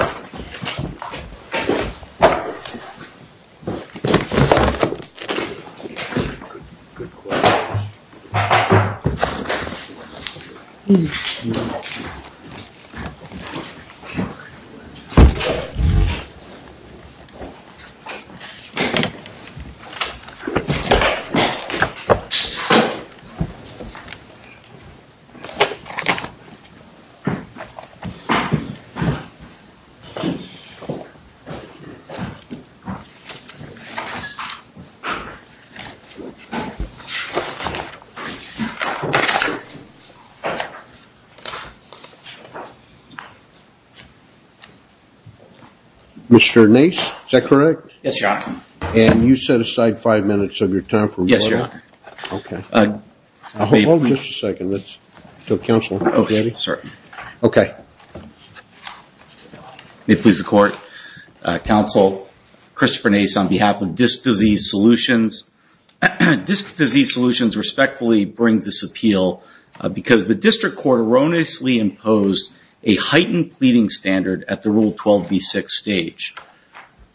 Oh Oh Mr. Nace is that correct? Yes. Yeah, and you set aside five minutes of your time for yes. Yeah, okay I mean just a second. Let's go counsel. Oh, yeah, sir, okay Please the court counsel Christopher Nace on behalf of this disease solutions This disease solutions respectfully brings this appeal Because the district court erroneously imposed a heightened pleading standard at the rule 12b 6 stage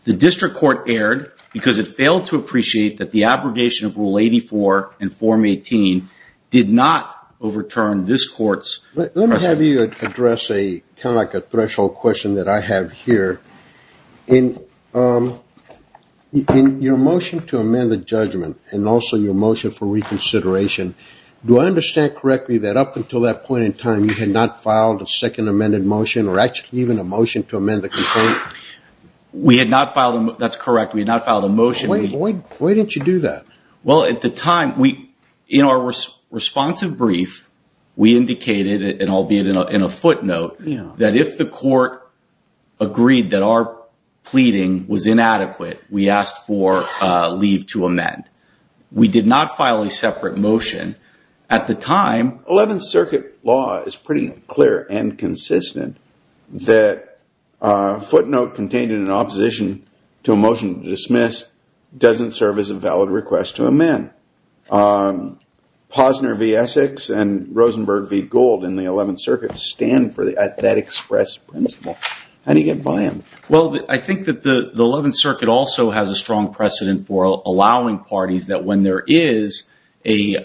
The district court erred because it failed to appreciate that the abrogation of rule 84 and form 18 Did not overturn this court's Address a kind of like a threshold question that I have here in Your motion to amend the judgment and also your motion for reconsideration Do I understand correctly that up until that point in time you had not filed a second amended motion or actually even a motion to? amend the complaint We had not filed them. That's correct. We had not filed a motion. Why didn't you do that? Well at the time we in our Responsive brief we indicated it and albeit in a footnote. You know that if the court agreed that our Pleading was inadequate. We asked for leave to amend We did not file a separate motion at the time 11th Circuit law is pretty clear and consistent that footnote contained in an opposition to a motion to dismiss Doesn't serve as a valid request to amend Posner v Essex and Rosenberg v gold in the 11th Circuit stand for the at that express principle How do you get by him? well, I think that the the 11th Circuit also has a strong precedent for allowing parties that when there is a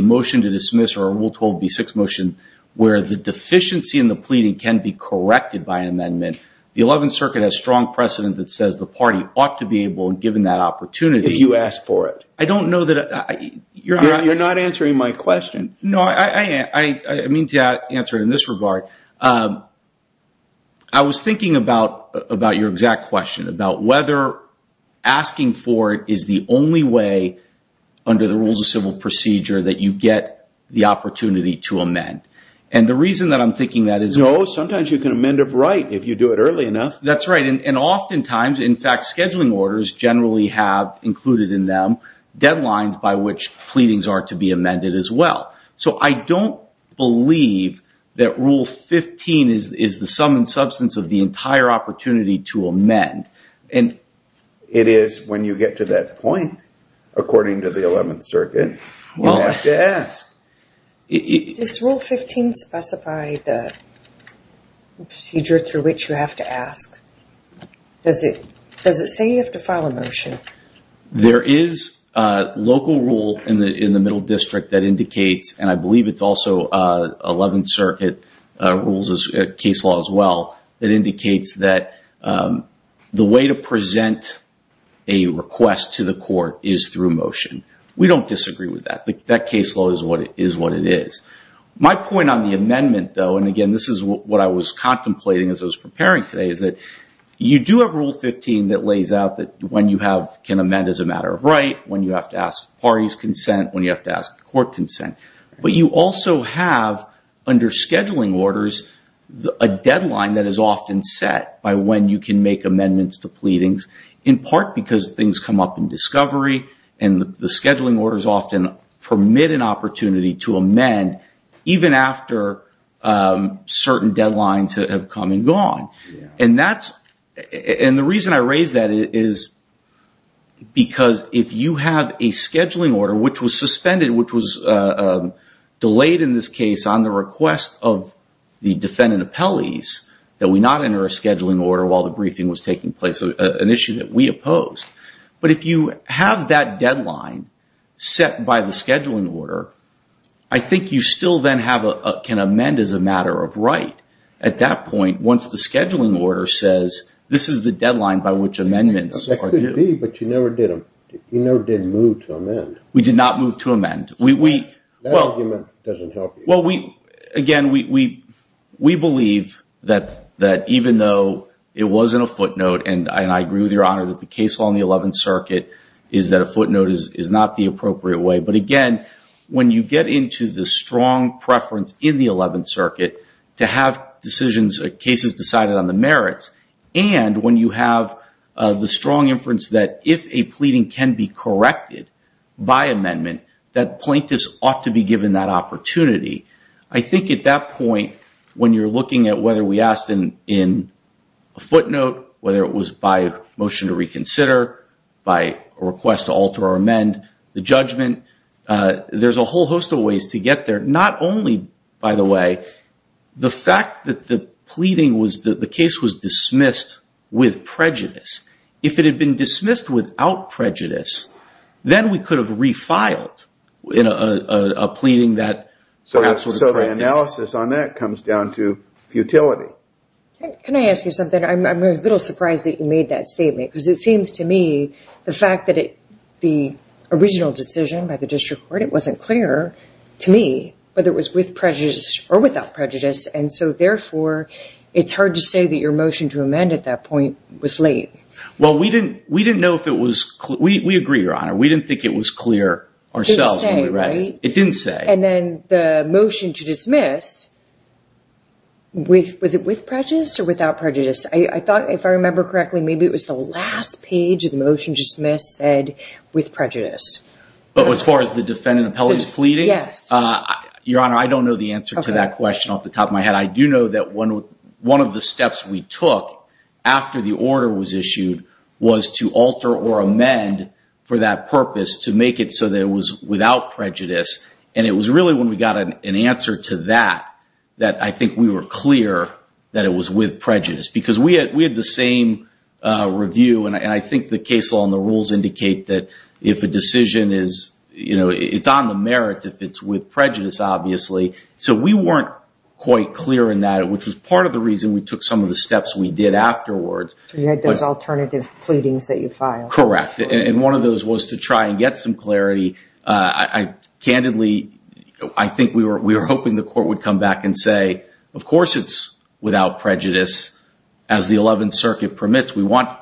Motion to dismiss or a rule 12b 6 motion where the deficiency in the pleading can be corrected by an amendment The 11th Circuit has strong precedent that says the party ought to be able and given that opportunity you asked for it I don't know that I you're not you're not answering my question. No, I mean to answer in this regard I Was thinking about about your exact question about whether? Asking for it is the only way Under the rules of civil procedure that you get the opportunity to amend and the reason that I'm thinking that is no Sometimes you can amend it, right if you do it early enough, that's right And oftentimes in fact scheduling orders generally have included in them Deadlines by which pleadings are to be amended as well So I don't believe that rule 15 is is the sum and substance of the entire opportunity to amend And it is when you get to that point According to the 11th Circuit. Well, yes this rule 15 specified that Procedure through which you have to ask Does it does it say you have to file a motion? there is a local rule in the in the middle district that indicates and I believe it's also 11th Circuit rules as case law as well that indicates that the way to present a Request to the court is through motion. We don't disagree with that. That case law is what it is My point on the amendment though, and again, this is what I was contemplating as I was preparing today Is that you do have rule 15 that lays out that when you have can amend as a matter of right when you have to? Ask parties consent when you have to ask court consent, but you also have under scheduling orders a deadline that is often set by when you can make amendments to pleadings in part because things come up in discovery and The scheduling orders often permit an opportunity to amend even after Certain deadlines have come and gone and that's and the reason I raise that is because if you have a scheduling order, which was suspended which was delayed in this case on the request of The defendant appellees that we not enter a scheduling order while the briefing was taking place an issue that we opposed But if you have that deadline Set by the scheduling order. I Think you still then have a can amend as a matter of right at that point Once the scheduling order says this is the deadline by which amendments are to be but you never did Um, you know didn't move to amend. We did not move to amend. We we Well, we again we We believe that that even though it wasn't a footnote and I and I agree with your honor that the case law in the 11th Circuit is that a footnote is is not the appropriate way but again when you get into the strong preference in the 11th circuit to have decisions cases decided on the merits and when you have The strong inference that if a pleading can be corrected by amendment that plaintiffs ought to be given that opportunity I think at that point when you're looking at whether we asked in in a footnote whether it was by motion to Reconsider by a request to alter or amend the judgment There's a whole host of ways to get there. Not only by the way The fact that the pleading was that the case was dismissed with prejudice if it had been dismissed without prejudice then we could have refiled in a Analysis on that comes down to futility Can I ask you something? I'm a little surprised that you made that statement because it seems to me the fact that it the Original decision by the district court. It wasn't clear to me whether it was with prejudice or without prejudice And so therefore it's hard to say that your motion to amend at that point was late Well, we didn't we didn't know if it was we agree your honor. We didn't think it was clear Ourselves anyway, it didn't say and then the motion to dismiss With was it with prejudice or without prejudice? I thought if I remember correctly Maybe it was the last page of the motion to dismiss said with prejudice But as far as the defendant appellate is pleading. Yes Your honor. I don't know the answer to that question off the top of my head I do know that one one of the steps we took after the order was issued was to alter or amend For that purpose to make it so that it was without prejudice and it was really when we got an answer to that That I think we were clear that it was with prejudice because we had we had the same Review and I think the case law and the rules indicate that if a decision is you know It's on the merits if it's with prejudice, obviously So we weren't quite clear in that which was part of the reason we took some of the steps we did afterwards There's alternative pleadings that you file correct and one of those was to try and get some clarity I Candidly, I think we were we were hoping the court would come back and say of course It's without prejudice as the 11th Circuit permits We want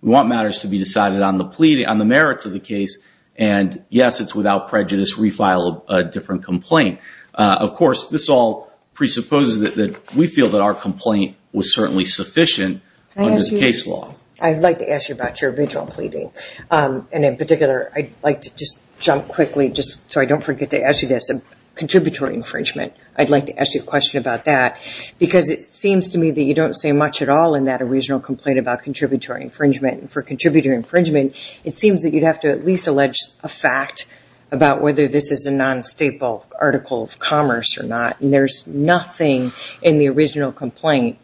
we want matters to be decided on the pleading on the merits of the case And yes, it's without prejudice refile a different complaint. Of course this all Presupposes that we feel that our complaint was certainly sufficient I'd like to ask you about your original pleading And in particular I'd like to just jump quickly just so I don't forget to ask you this a contributory infringement I'd like to ask you a question about that Because it seems to me that you don't say much at all in that original complaint about contributory infringement and for contributor infringement It seems that you'd have to at least allege a fact about whether this is a non-staple article of commerce or not, and there's nothing in the original complaint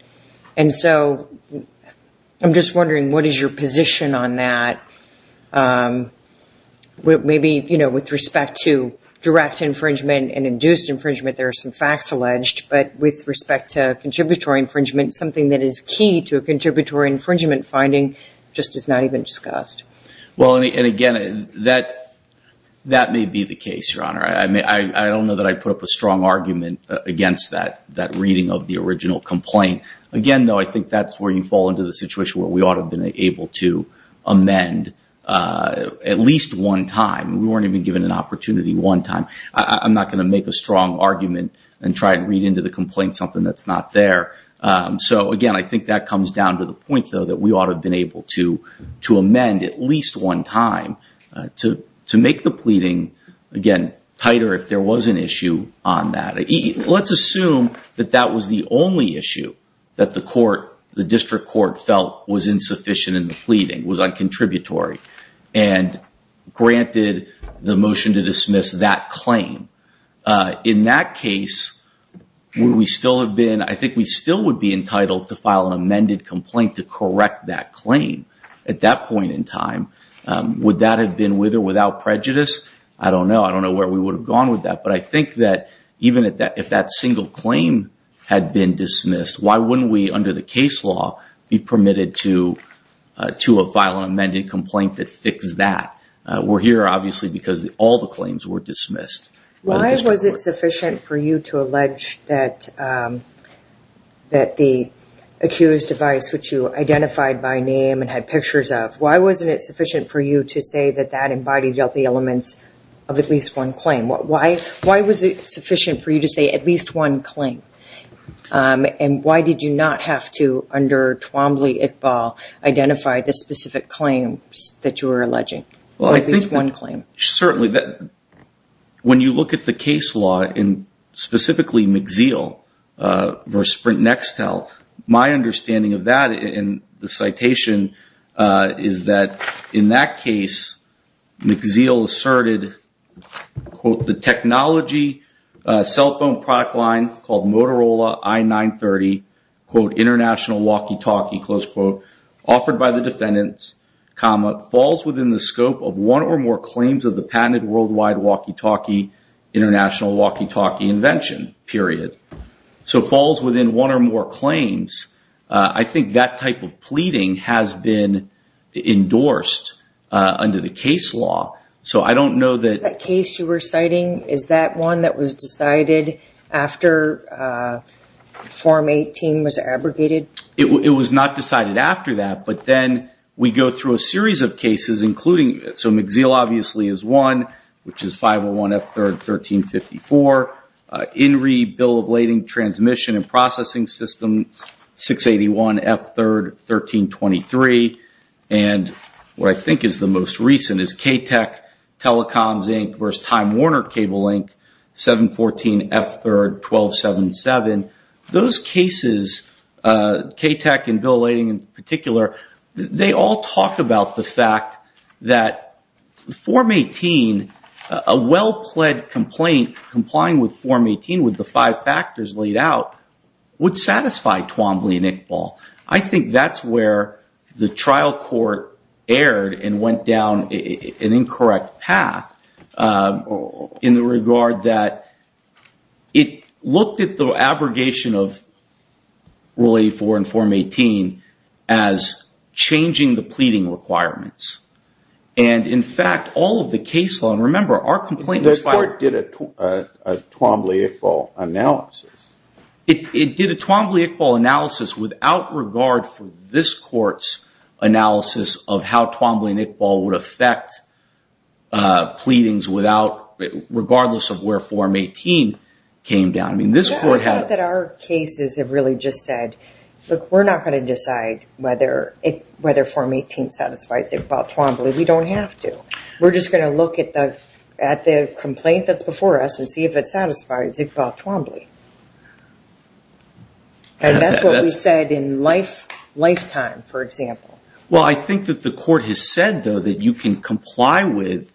and so I'm just wondering. What is your position on that? What maybe you know with respect to direct infringement and induced infringement There are some facts alleged but with respect to contributory infringement something that is key to a contributory infringement Finding just is not even discussed. Well any and again that That may be the case your honor I mean, I don't know that I put up a strong argument against that that reading of the original complaint again, though I think that's where you fall into the situation where we ought to have been able to amend At least one time we weren't even given an opportunity one time I'm not going to make a strong argument and try and read into the complaint something that's not there So again, I think that comes down to the point though that we ought to have been able to to amend at least one time To to make the pleading again tighter if there was an issue on that Let's assume that that was the only issue that the court the district court felt was insufficient in the pleading was on contributory and Granted the motion to dismiss that claim in that case Would we still have been I think we still would be entitled to file an amended complaint to correct that claim at that point in time Would that have been with or without prejudice? I don't know I don't know where we would have gone with that But I think that even at that if that single claim had been dismissed Why wouldn't we under the case law be permitted to? To a file an amended complaint that fix that we're here obviously because all the claims were dismissed Why was it sufficient for you to allege that? That the accused device which you Identified by name and had pictures of why wasn't it sufficient for you to say that that embodied healthy elements of at least? One claim what why why was it sufficient for you to say at least one claim? And why did you not have to under Twombly it ball? Identify the specific claims that you were alleging. Well, I think this one claim certainly that When you look at the case law in specifically McZeo Versus print next tell my understanding of that in the citation Is that in that case? McZeo asserted Quote the technology Cellphone product line called Motorola. I 930 quote international walkie-talkie close quote offered by the defendants Comma falls within the scope of one or more claims of the patented worldwide walkie-talkie International walkie-talkie invention period so falls within one or more claims. I think that type of pleading has been Endorsed Under the case law, so I don't know that that case you were citing. Is that one that was decided after? Form 18 was abrogated it was not decided after that But then we go through a series of cases including it so McZeo obviously is one which is 501 f 3rd 1354 in re bill of lading transmission and processing system 681 f 3rd 1323 and What I think is the most recent is k tech telecoms Inc. Versus Time Warner Cable, Inc 714 f 3rd 1277 those cases K tech and bill leading in particular. They all talk about the fact that Form 18 a well-pled complaint complying with form 18 with the five factors laid out Would satisfy Twombly and Iqbal, I think that's where the trial court aired and went down an incorrect path in the regard that it looked at the abrogation of really for and form 18 as Changing the pleading requirements and in fact all of the case law and remember our complaint this part did it Twombly Iqbal analysis it did a Twombly Iqbal analysis without regard for this courts analysis of how Twombly and Iqbal would affect Pleadings without regardless of where form 18 came down I mean this court had that our cases have really just said look We're not going to decide whether it whether form 18 satisfies about Twombly We don't have to we're just going to look at the at the complaint That's before us and see if it satisfies Iqbal Twombly And that's what we said in life Lifetime for example. Well, I think that the court has said though that you can comply with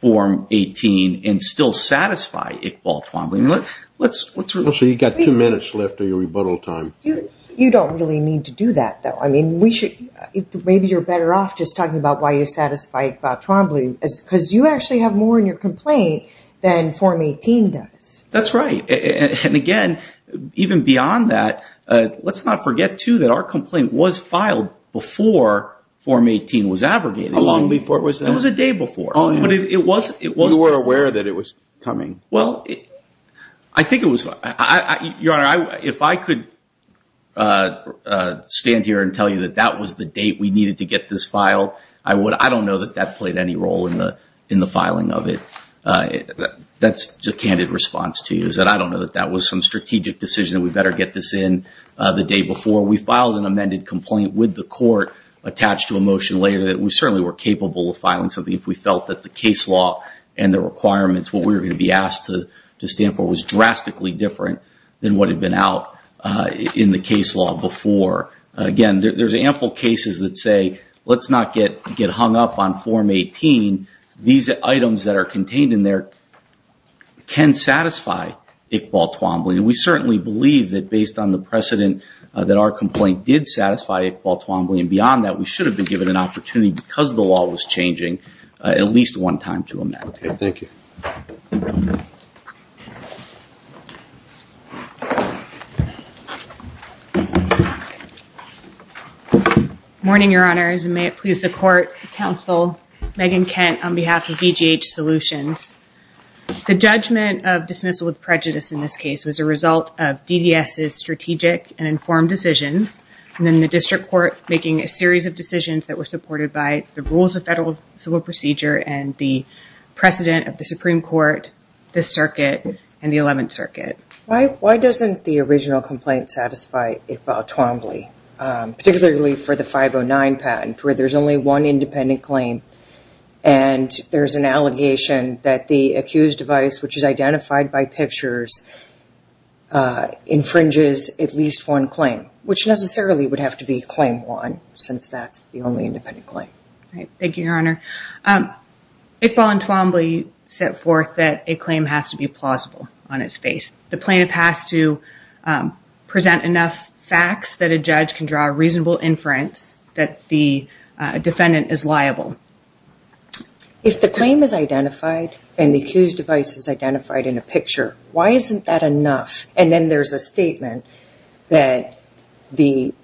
Form 18 and still satisfy Iqbal Twombly. Let's let's let's say you got two minutes left of your rebuttal time Yeah, you don't really need to do that though I mean we should Maybe you're better off just talking about why you satisfy about Twombly as because you actually have more in your complaint Than form 18 does that's right. And again even beyond that Let's not forget to that our complaint was filed before Form 18 was abrogated long before it was there was a day before Oh, it was it was we were aware that it was coming. Well, I Think it was I your honor. I if I could Stand here and tell you that that was the date we needed to get this file I would I don't know that that played any role in the in the filing of it That's a candid response to you is that I don't know that that was some strategic decision We better get this in the day before we filed an amended complaint with the court attached to a motion later that we certainly were capable of filing something if we felt that the case law and the Requirements what we were going to be asked to to stand for was drastically different than what had been out in the case law before Again there's ample cases that say let's not get get hung up on form 18 these items that are contained in there Can satisfy it ball Twombly and we certainly believe that based on the precedent that our complaint did satisfy It ball Twombly and beyond that we should have been given an opportunity because the law was changing at least one time to amend. Thank you Morning your honors and may it please the court counsel Megan Kent on behalf of BGH solutions The judgment of dismissal with prejudice in this case was a result of DDS is strategic and informed decisions and then the district court making a series of decisions that were supported by the rules of federal civil procedure and the Precedent of the Supreme Court the circuit and the 11th circuit. Why why doesn't the original complaint satisfy a ball Twombly? particularly for the 509 patent where there's only one independent claim and There's an allegation that the accused device which is identified by pictures Infringes at least one claim which necessarily would have to be claim one since that's the only independent claim. Thank you your honor It ball and Twombly set forth that a claim has to be plausible on its face the plaintiff has to Present enough facts that a judge can draw a reasonable inference that the defendant is liable If the claim is identified and the accused device is identified in a picture Why isn't that enough and then there's a statement that? the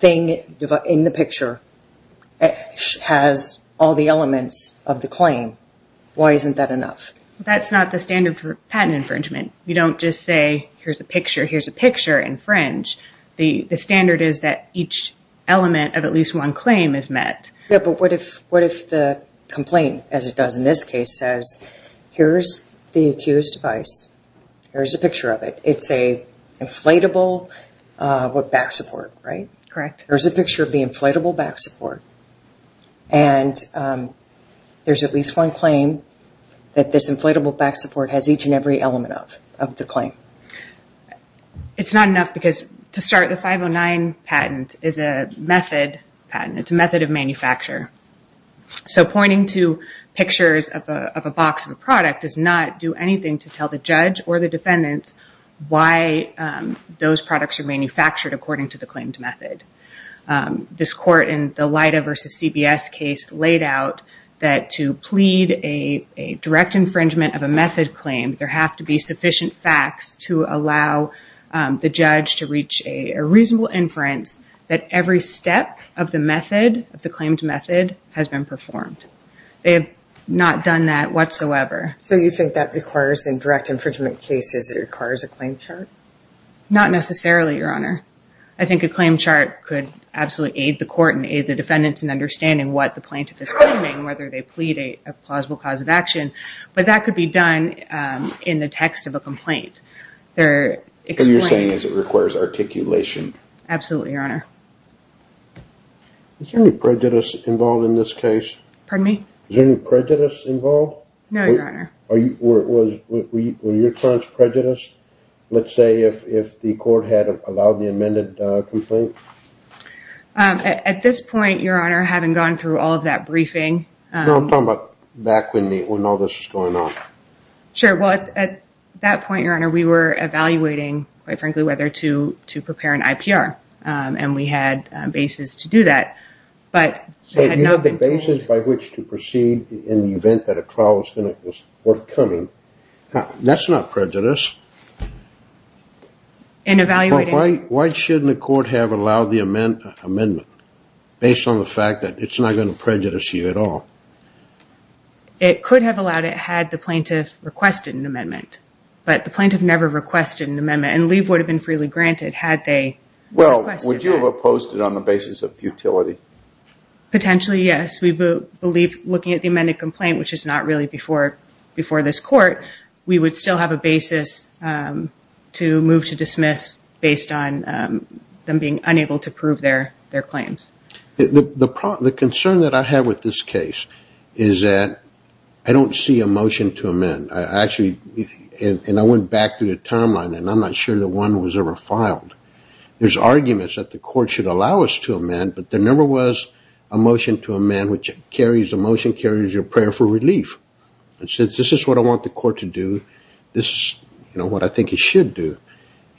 thing in the picture Has all the elements of the claim? Why isn't that enough? That's not the standard for patent infringement You don't just say here's a picture. Here's a picture infringe the the standard is that each Element of at least one claim is met. Yeah, but what if what if the complaint as it does in this case says? Here's the accused device There's a picture of it. It's a inflatable what back support right correct, there's a picture of the inflatable back support and There's at least one claim that this inflatable back support has each and every element of of the claim It's not enough because to start the 509 patent is a method and it's a method of manufacture So pointing to pictures of a box of a product does not do anything to tell the judge or the defendants why? Those products are manufactured according to the claimed method This court in the light of versus CBS case laid out that to plead a Direct infringement of a method claim there have to be sufficient facts to allow The judge to reach a reasonable inference that every step of the method of the claimed method has been performed They have not done that whatsoever. So you think that requires in direct infringement cases it requires a claim chart Not necessarily your honor I think a claim chart could absolutely aid the court and aid the defendants in understanding what the plaintiff is claiming whether they plead a plausible cause of action But that could be done in the text of a complaint there if you're saying is it requires articulation Absolutely, your honor It's only prejudice involved in this case. Pardon me. Is there any prejudice involved? No, your honor Or it was your clients prejudice, let's say if the court had allowed the amended complaint At this point your honor having gone through all of that briefing. No, I'm talking about back when the when all this is going on Sure. Well at that point your honor We were evaluating quite frankly whether to to prepare an IPR and we had basis to do that So you have the basis by which to proceed in the event that a trial was worth coming That's not prejudice In evaluating. Why shouldn't the court have allowed the amendment based on the fact that it's not going to prejudice you at all It could have allowed it had the plaintiff requested an amendment But the plaintiff never requested an amendment and leave would have been freely granted had they Well, would you have opposed it on the basis of futility? Potentially. Yes, we believe looking at the amended complaint, which is not really before before this court. We would still have a basis to move to dismiss based on Them being unable to prove their their claims The problem the concern that I have with this case is that I don't see a motion to amend I actually and I went back to the timeline and I'm not sure that one was ever filed There's arguments that the court should allow us to amend but there never was a Motion to amend which carries a motion carries your prayer for relief And since this is what I want the court to do this, you know what? I think it should do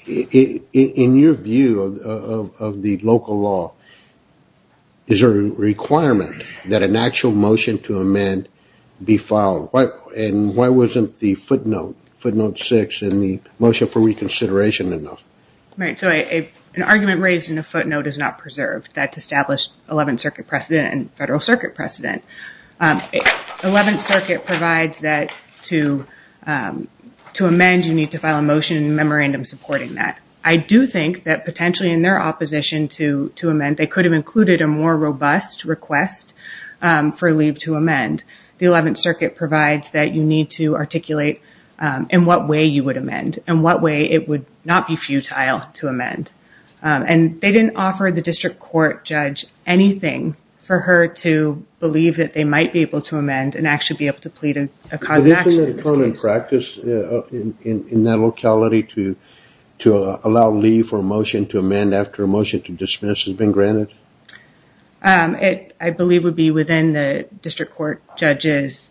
in your view of the local law Is there a requirement that an actual motion to amend? Be filed right and why wasn't the footnote footnote six in the motion for reconsideration enough, right? An argument raised in a footnote is not preserved that's established 11th Circuit precedent and Federal Circuit precedent 11th Circuit provides that to To amend you need to file a motion memorandum supporting that I do think that potentially in their opposition to to amend They could have included a more robust request For leave to amend the 11th Circuit provides that you need to articulate In what way you would amend and what way it would not be futile to amend And they didn't offer the district court judge Anything for her to believe that they might be able to amend and actually be able to plead a cause practice In that locality to to allow leave for a motion to amend after a motion to dismiss has been granted It I believe would be within the district court judges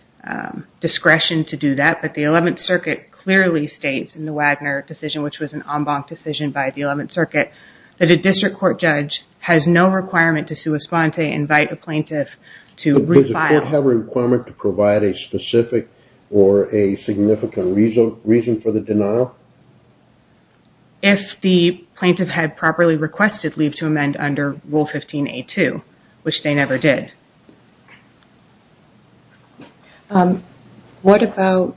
Discretion to do that, but the 11th Circuit clearly states in the Wagner decision Which was an en banc decision by the 11th Circuit that a district court judge has no requirement to sue a sponte invite a plaintiff To refile have a requirement to provide a specific or a significant reason reason for the denial If the plaintiff had properly requested leave to amend under rule 15 a2, which they never did What about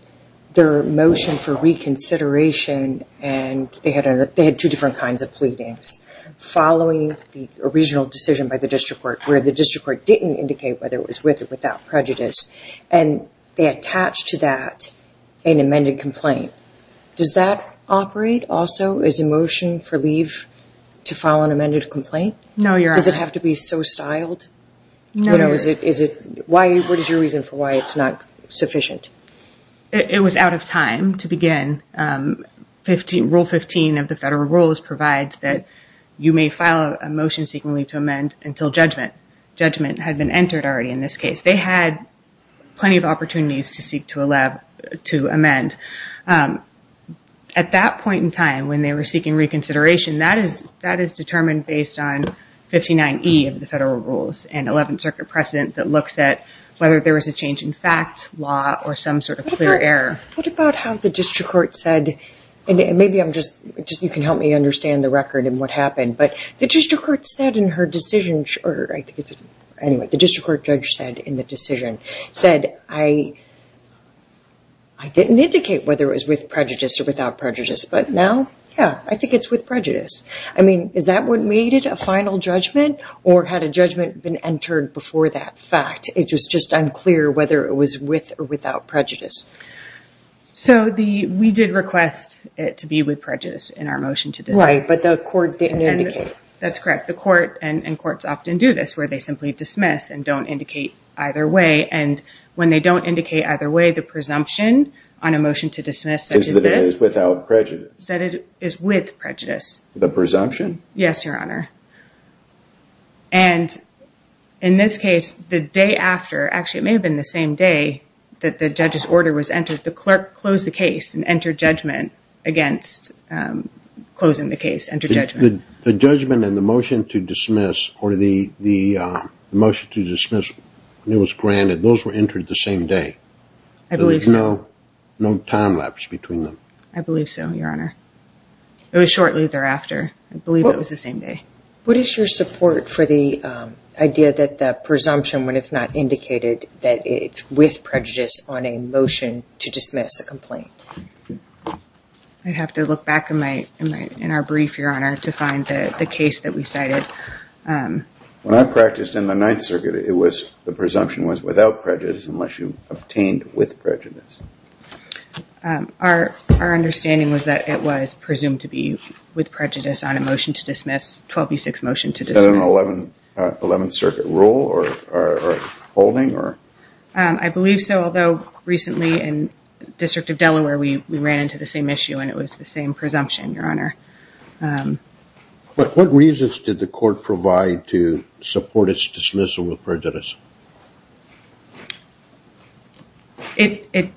their motion for reconsideration and they had a they had two different kinds of pleadings following the original decision by the district court where the district court didn't indicate whether it was with or without prejudice and They attached to that an amended complaint Does that operate also is a motion for leave to file an amended complaint? No, you're does it have to be so styled? No, no, is it is it why what is your reason for why it's not sufficient it was out of time to begin 15 rule 15 of the federal rules provides that you may file a motion seeking leave to amend until judgment Judgment had been entered already in this case. They had Plenty of opportunities to speak to a lab to amend At that point in time when they were seeking reconsideration that is that is determined based on 59e of the federal rules and 11th Circuit precedent that looks at whether there was a change in fact law or some sort of clear Error, what about how the district court said and maybe I'm just just you can help me understand the record and what happened but the district court said in her decision or anyway, the district court judge said in the decision said I I Didn't indicate whether it was with prejudice or without prejudice, but now yeah, I think it's with prejudice I mean, is that what made it a final judgment or had a judgment been entered before that fact? It was just unclear whether it was with or without prejudice So the we did request it to be with prejudice in our motion today, right? But the court didn't indicate that's correct the court and courts often do this where they simply dismiss and don't indicate either way and When they don't indicate either way the presumption on a motion to dismiss Without prejudice that it is with prejudice the presumption. Yes, Your Honor and in this case the day after actually it may have been the same day that the judge's order was entered the clerk closed the case and entered judgment against closing the case and to judge the judgment and the motion to dismiss or the the Motion to dismiss and it was granted. Those were entered the same day No, no time-lapse between them, I believe so your honor It was shortly thereafter. I believe it was the same day. What is your support for the Idea that the presumption when it's not indicated that it's with prejudice on a motion to dismiss a complaint I'd have to look back in my in our brief your honor to find the case that we cited When I practiced in the Ninth Circuit, it was the presumption was without prejudice unless you obtained with prejudice Our our understanding was that it was presumed to be with prejudice on a motion to dismiss 12b6 motion to the 11 11th Circuit rule or holding or I Believe so, although recently in District of Delaware, we ran into the same issue and it was the same presumption your honor But what reasons did the court provide to support its dismissal with prejudice It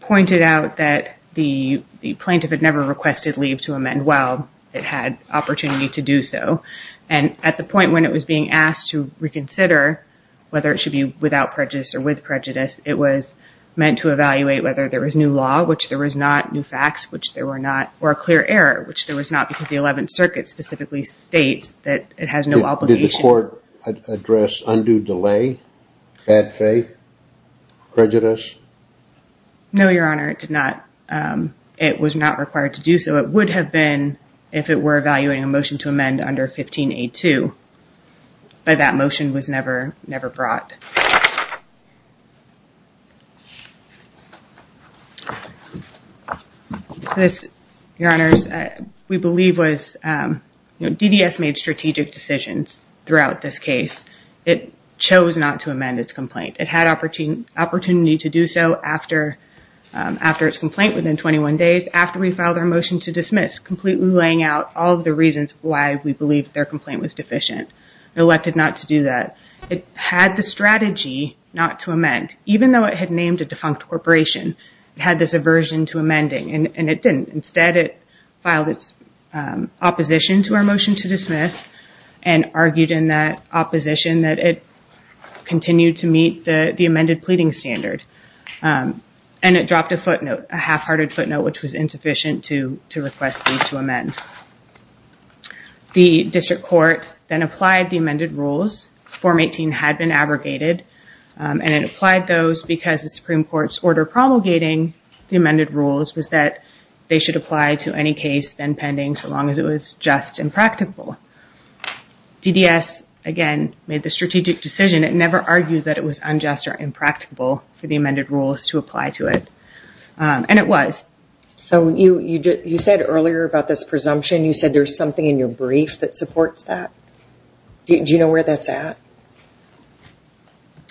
pointed out that the Plaintiff had never requested leave to amend. Well, it had opportunity to do so and at the point when it was being asked to reconsider Whether it should be without prejudice or with prejudice It was meant to evaluate whether there was new law which there was not new facts Which there were not or a clear error, which there was not because the 11th Circuit specifically states that it has no obligation address undue delay bad faith Prejudice No, your honor. It did not It was not required to do so. It would have been if it were evaluating a motion to amend under 15 a to But that motion was never never brought Your honors we believe was DDS made strategic decisions throughout this case. It chose not to amend its complaint. It had opportune opportunity to do so after After its complaint within 21 days after we filed our motion to dismiss completely laying out all the reasons why we believe their complaint was deficient Elected not to do that. It had the strategy not to amend even though it had named a defunct corporation Had this aversion to amending and it didn't instead it filed its opposition to our motion to dismiss and argued in that opposition that it Continued to meet the the amended pleading standard And it dropped a footnote a half-hearted footnote, which was insufficient to to request these to amend The district court then applied the amended rules Form 18 had been abrogated And it applied those because the Supreme Court's order promulgating The amended rules was that they should apply to any case then pending so long as it was just impractical DDS again made the strategic decision It never argued that it was unjust or impractical for the amended rules to apply to it And it was so you you just you said earlier about this presumption. You said there's something in your brief that supports that Do you know where that's at?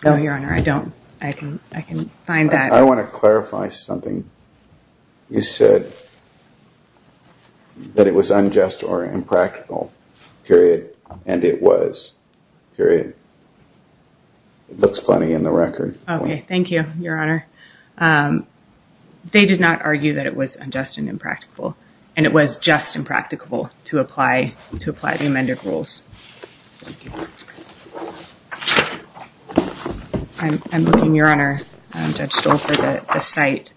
No, your honor, I don't I can I can find that I want to clarify something you said That it was unjust or impractical period and it was period It looks funny in the record. Okay. Thank you, Your Honor They did not argue that it was unjust and impractical and it was just impractical to apply to apply the amended rules I'm looking, Your Honor, at the site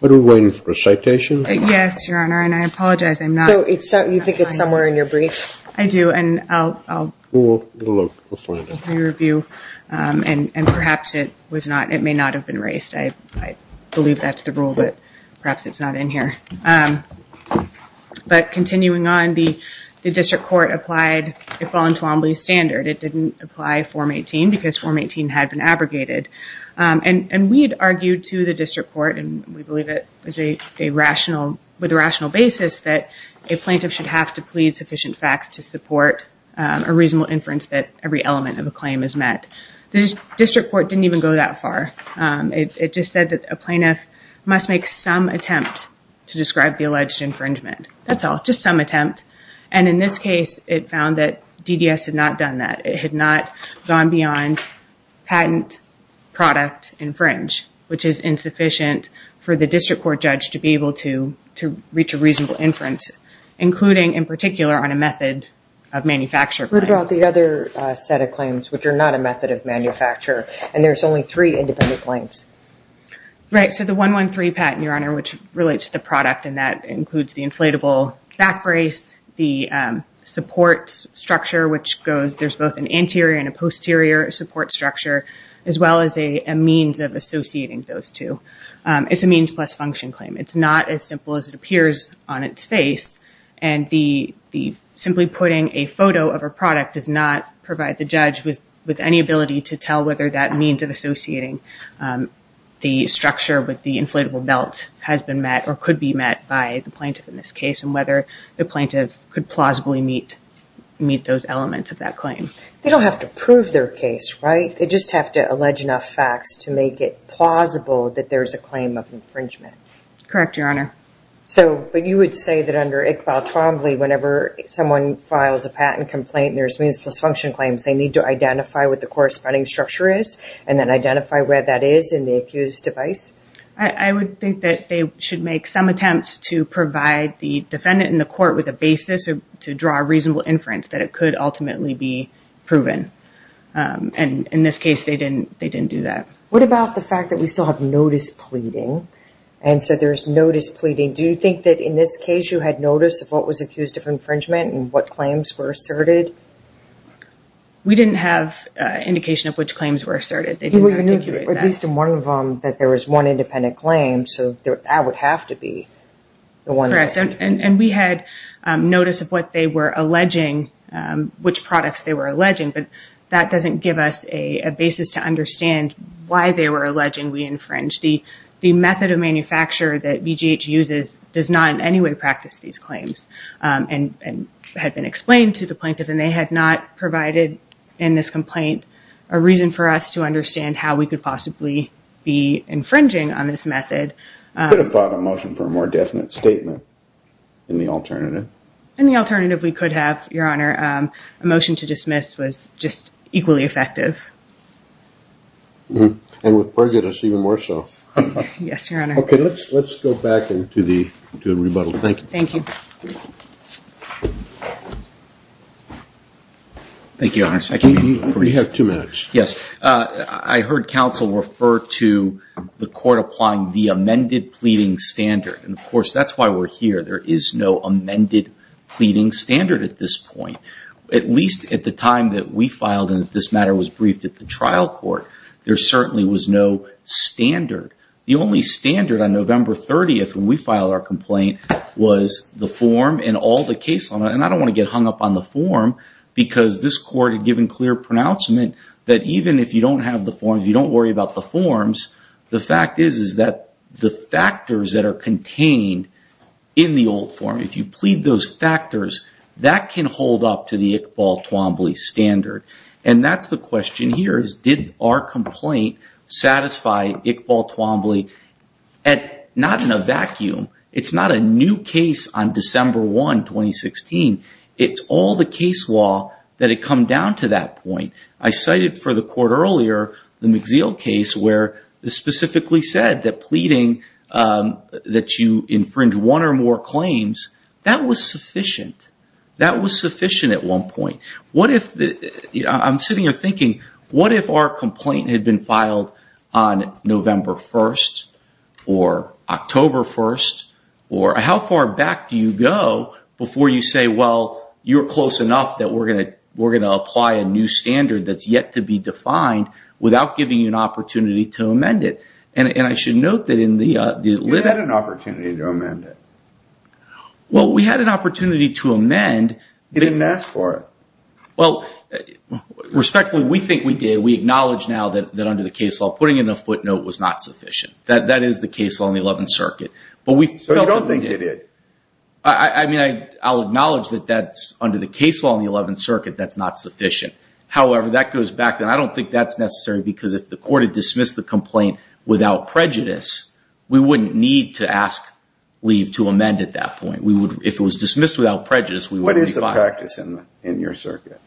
What are we waiting for, a citation? Yes, Your Honor, and I apologize. I'm not so it's so you think it's somewhere in your brief. I do and I'll Review and and perhaps it was not it may not have been raised. I believe that's the rule, but perhaps it's not in here But Continuing on the the district court applied a Folland-Toombley standard It didn't apply form 18 because form 18 had been abrogated and and we had argued to the district court and we believe it was a Rational with a rational basis that a plaintiff should have to plead sufficient facts to support A reasonable inference that every element of a claim is met. The district court didn't even go that far It just said that a plaintiff must make some attempt to describe the alleged infringement That's all just some attempt and in this case it found that DDS had not done that it had not gone beyond patent Product infringe which is insufficient for the district court judge to be able to to reach a reasonable inference including in particular on a method of Manufacture what about the other set of claims which are not a method of manufacture and there's only three independent claims Right. So the one one three patent your honor which relates to the product and that includes the inflatable back brace the support structure Which goes there's both an anterior and a posterior support structure as well as a means of associating those two It's a means plus function claim. It's not as simple as it appears on its face and the Simply putting a photo of a product does not provide the judge with with any ability to tell whether that means of associating The structure with the inflatable belt has been met or could be met by the plaintiff in this case and whether the plaintiff could plausibly Meet meet those elements of that claim. They don't have to prove their case, right? They just have to allege enough facts to make it plausible that there's a claim of infringement Correct your honor So but you would say that under Iqbal Twombly whenever someone files a patent complaint, there's means plus function claims They need to identify what the corresponding structure is and then identify where that is in the accused device I Would think that they should make some attempts to provide the defendant in the court with a basis to draw a reasonable inference that it Could ultimately be proven And in this case, they didn't they didn't do that What about the fact that we still have notice pleading and so there's notice pleading Do you think that in this case you had notice of what was accused of infringement and what claims were asserted? We didn't have Indication of which claims were asserted they do At least in one of them that there was one independent claim. So there I would have to be the one and we had notice of what they were alleging Which products they were alleging but that doesn't give us a basis to understand why they were alleging We infringed the the method of manufacture that BGH uses does not in any way practice these claims And and had been explained to the plaintiff and they had not provided in this complaint a reason for us to understand how we could Possibly be infringing on this method Thought a motion for a more definite statement In the alternative and the alternative we could have your honor a motion to dismiss was just equally effective And with prejudice even more so yes, okay, let's let's go back into the good rebuttal. Thank you. Thank you Thank you, I can we have two minutes. Yes I heard counsel refer to the court applying the amended pleading standard. And of course, that's why we're here There is no amended pleading standard at this point At least at the time that we filed and this matter was briefed at the trial court. There certainly was no Standard the only standard on November 30th when we filed our complaint Was the form and all the case on it and I don't want to get hung up on the form Because this court had given clear pronouncement that even if you don't have the form if you don't worry about the forms The fact is is that the factors that are contained in the old form if you plead those factors That can hold up to the Iqbal Twombly standard and that's the question here is did our complaint Satisfy Iqbal Twombly and not in a vacuum. It's not a new case on December 1 2016 it's all the case law that it come down to that point I cited for the court earlier the McZeel case where the specifically said that pleading That you infringe one or more claims that was sufficient. That was sufficient at one point What if the I'm sitting here thinking what if our complaint had been filed on? November 1st or October 1st or how far back do you go before you say? Well, you're close enough that we're gonna we're gonna apply a new standard that's yet to be defined Without giving you an opportunity to amend it and and I should note that in the you had an opportunity to amend it Well, we had an opportunity to amend didn't ask for it. Well Respectfully we think we did we acknowledge now that that under the case law putting in a footnote was not sufficient that that is the case Law in the 11th Circuit, but we don't they did it. I Mean, I I'll acknowledge that that's under the case law in the 11th Circuit. That's not sufficient However, that goes back then. I don't think that's necessary because if the court had dismissed the complaint without prejudice We wouldn't need to ask leave to amend at that point. We would if it was dismissed without prejudice We what is the practice in the in your circuit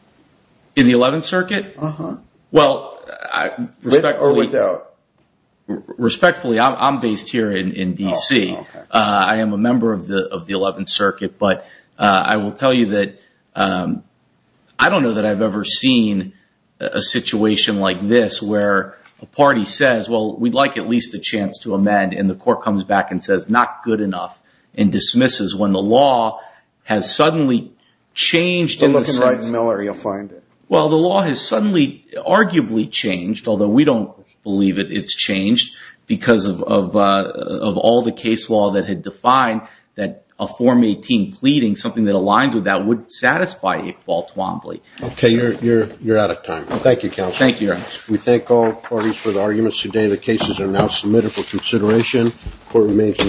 in the 11th Circuit? Uh-huh. Well, I or without Respectfully, I'm based here in DC. I am a member of the of the 11th Circuit, but I will tell you that I don't know that I've ever seen a situation like this where a Party says well, we'd like at least a chance to amend and the court comes back and says not good enough and dismisses when the law has suddenly Changed in looking like Miller you'll find it. Well, the law has suddenly Arguably changed although we don't believe it. It's changed because of Of all the case law that had defined that a form 18 pleading something that aligns with that would satisfy it Walt Wombley Okay, you're you're you're out of time. Thank you counsel. Thank you We thank all parties for the arguments today. The cases are now submitted for consideration Court remains in recess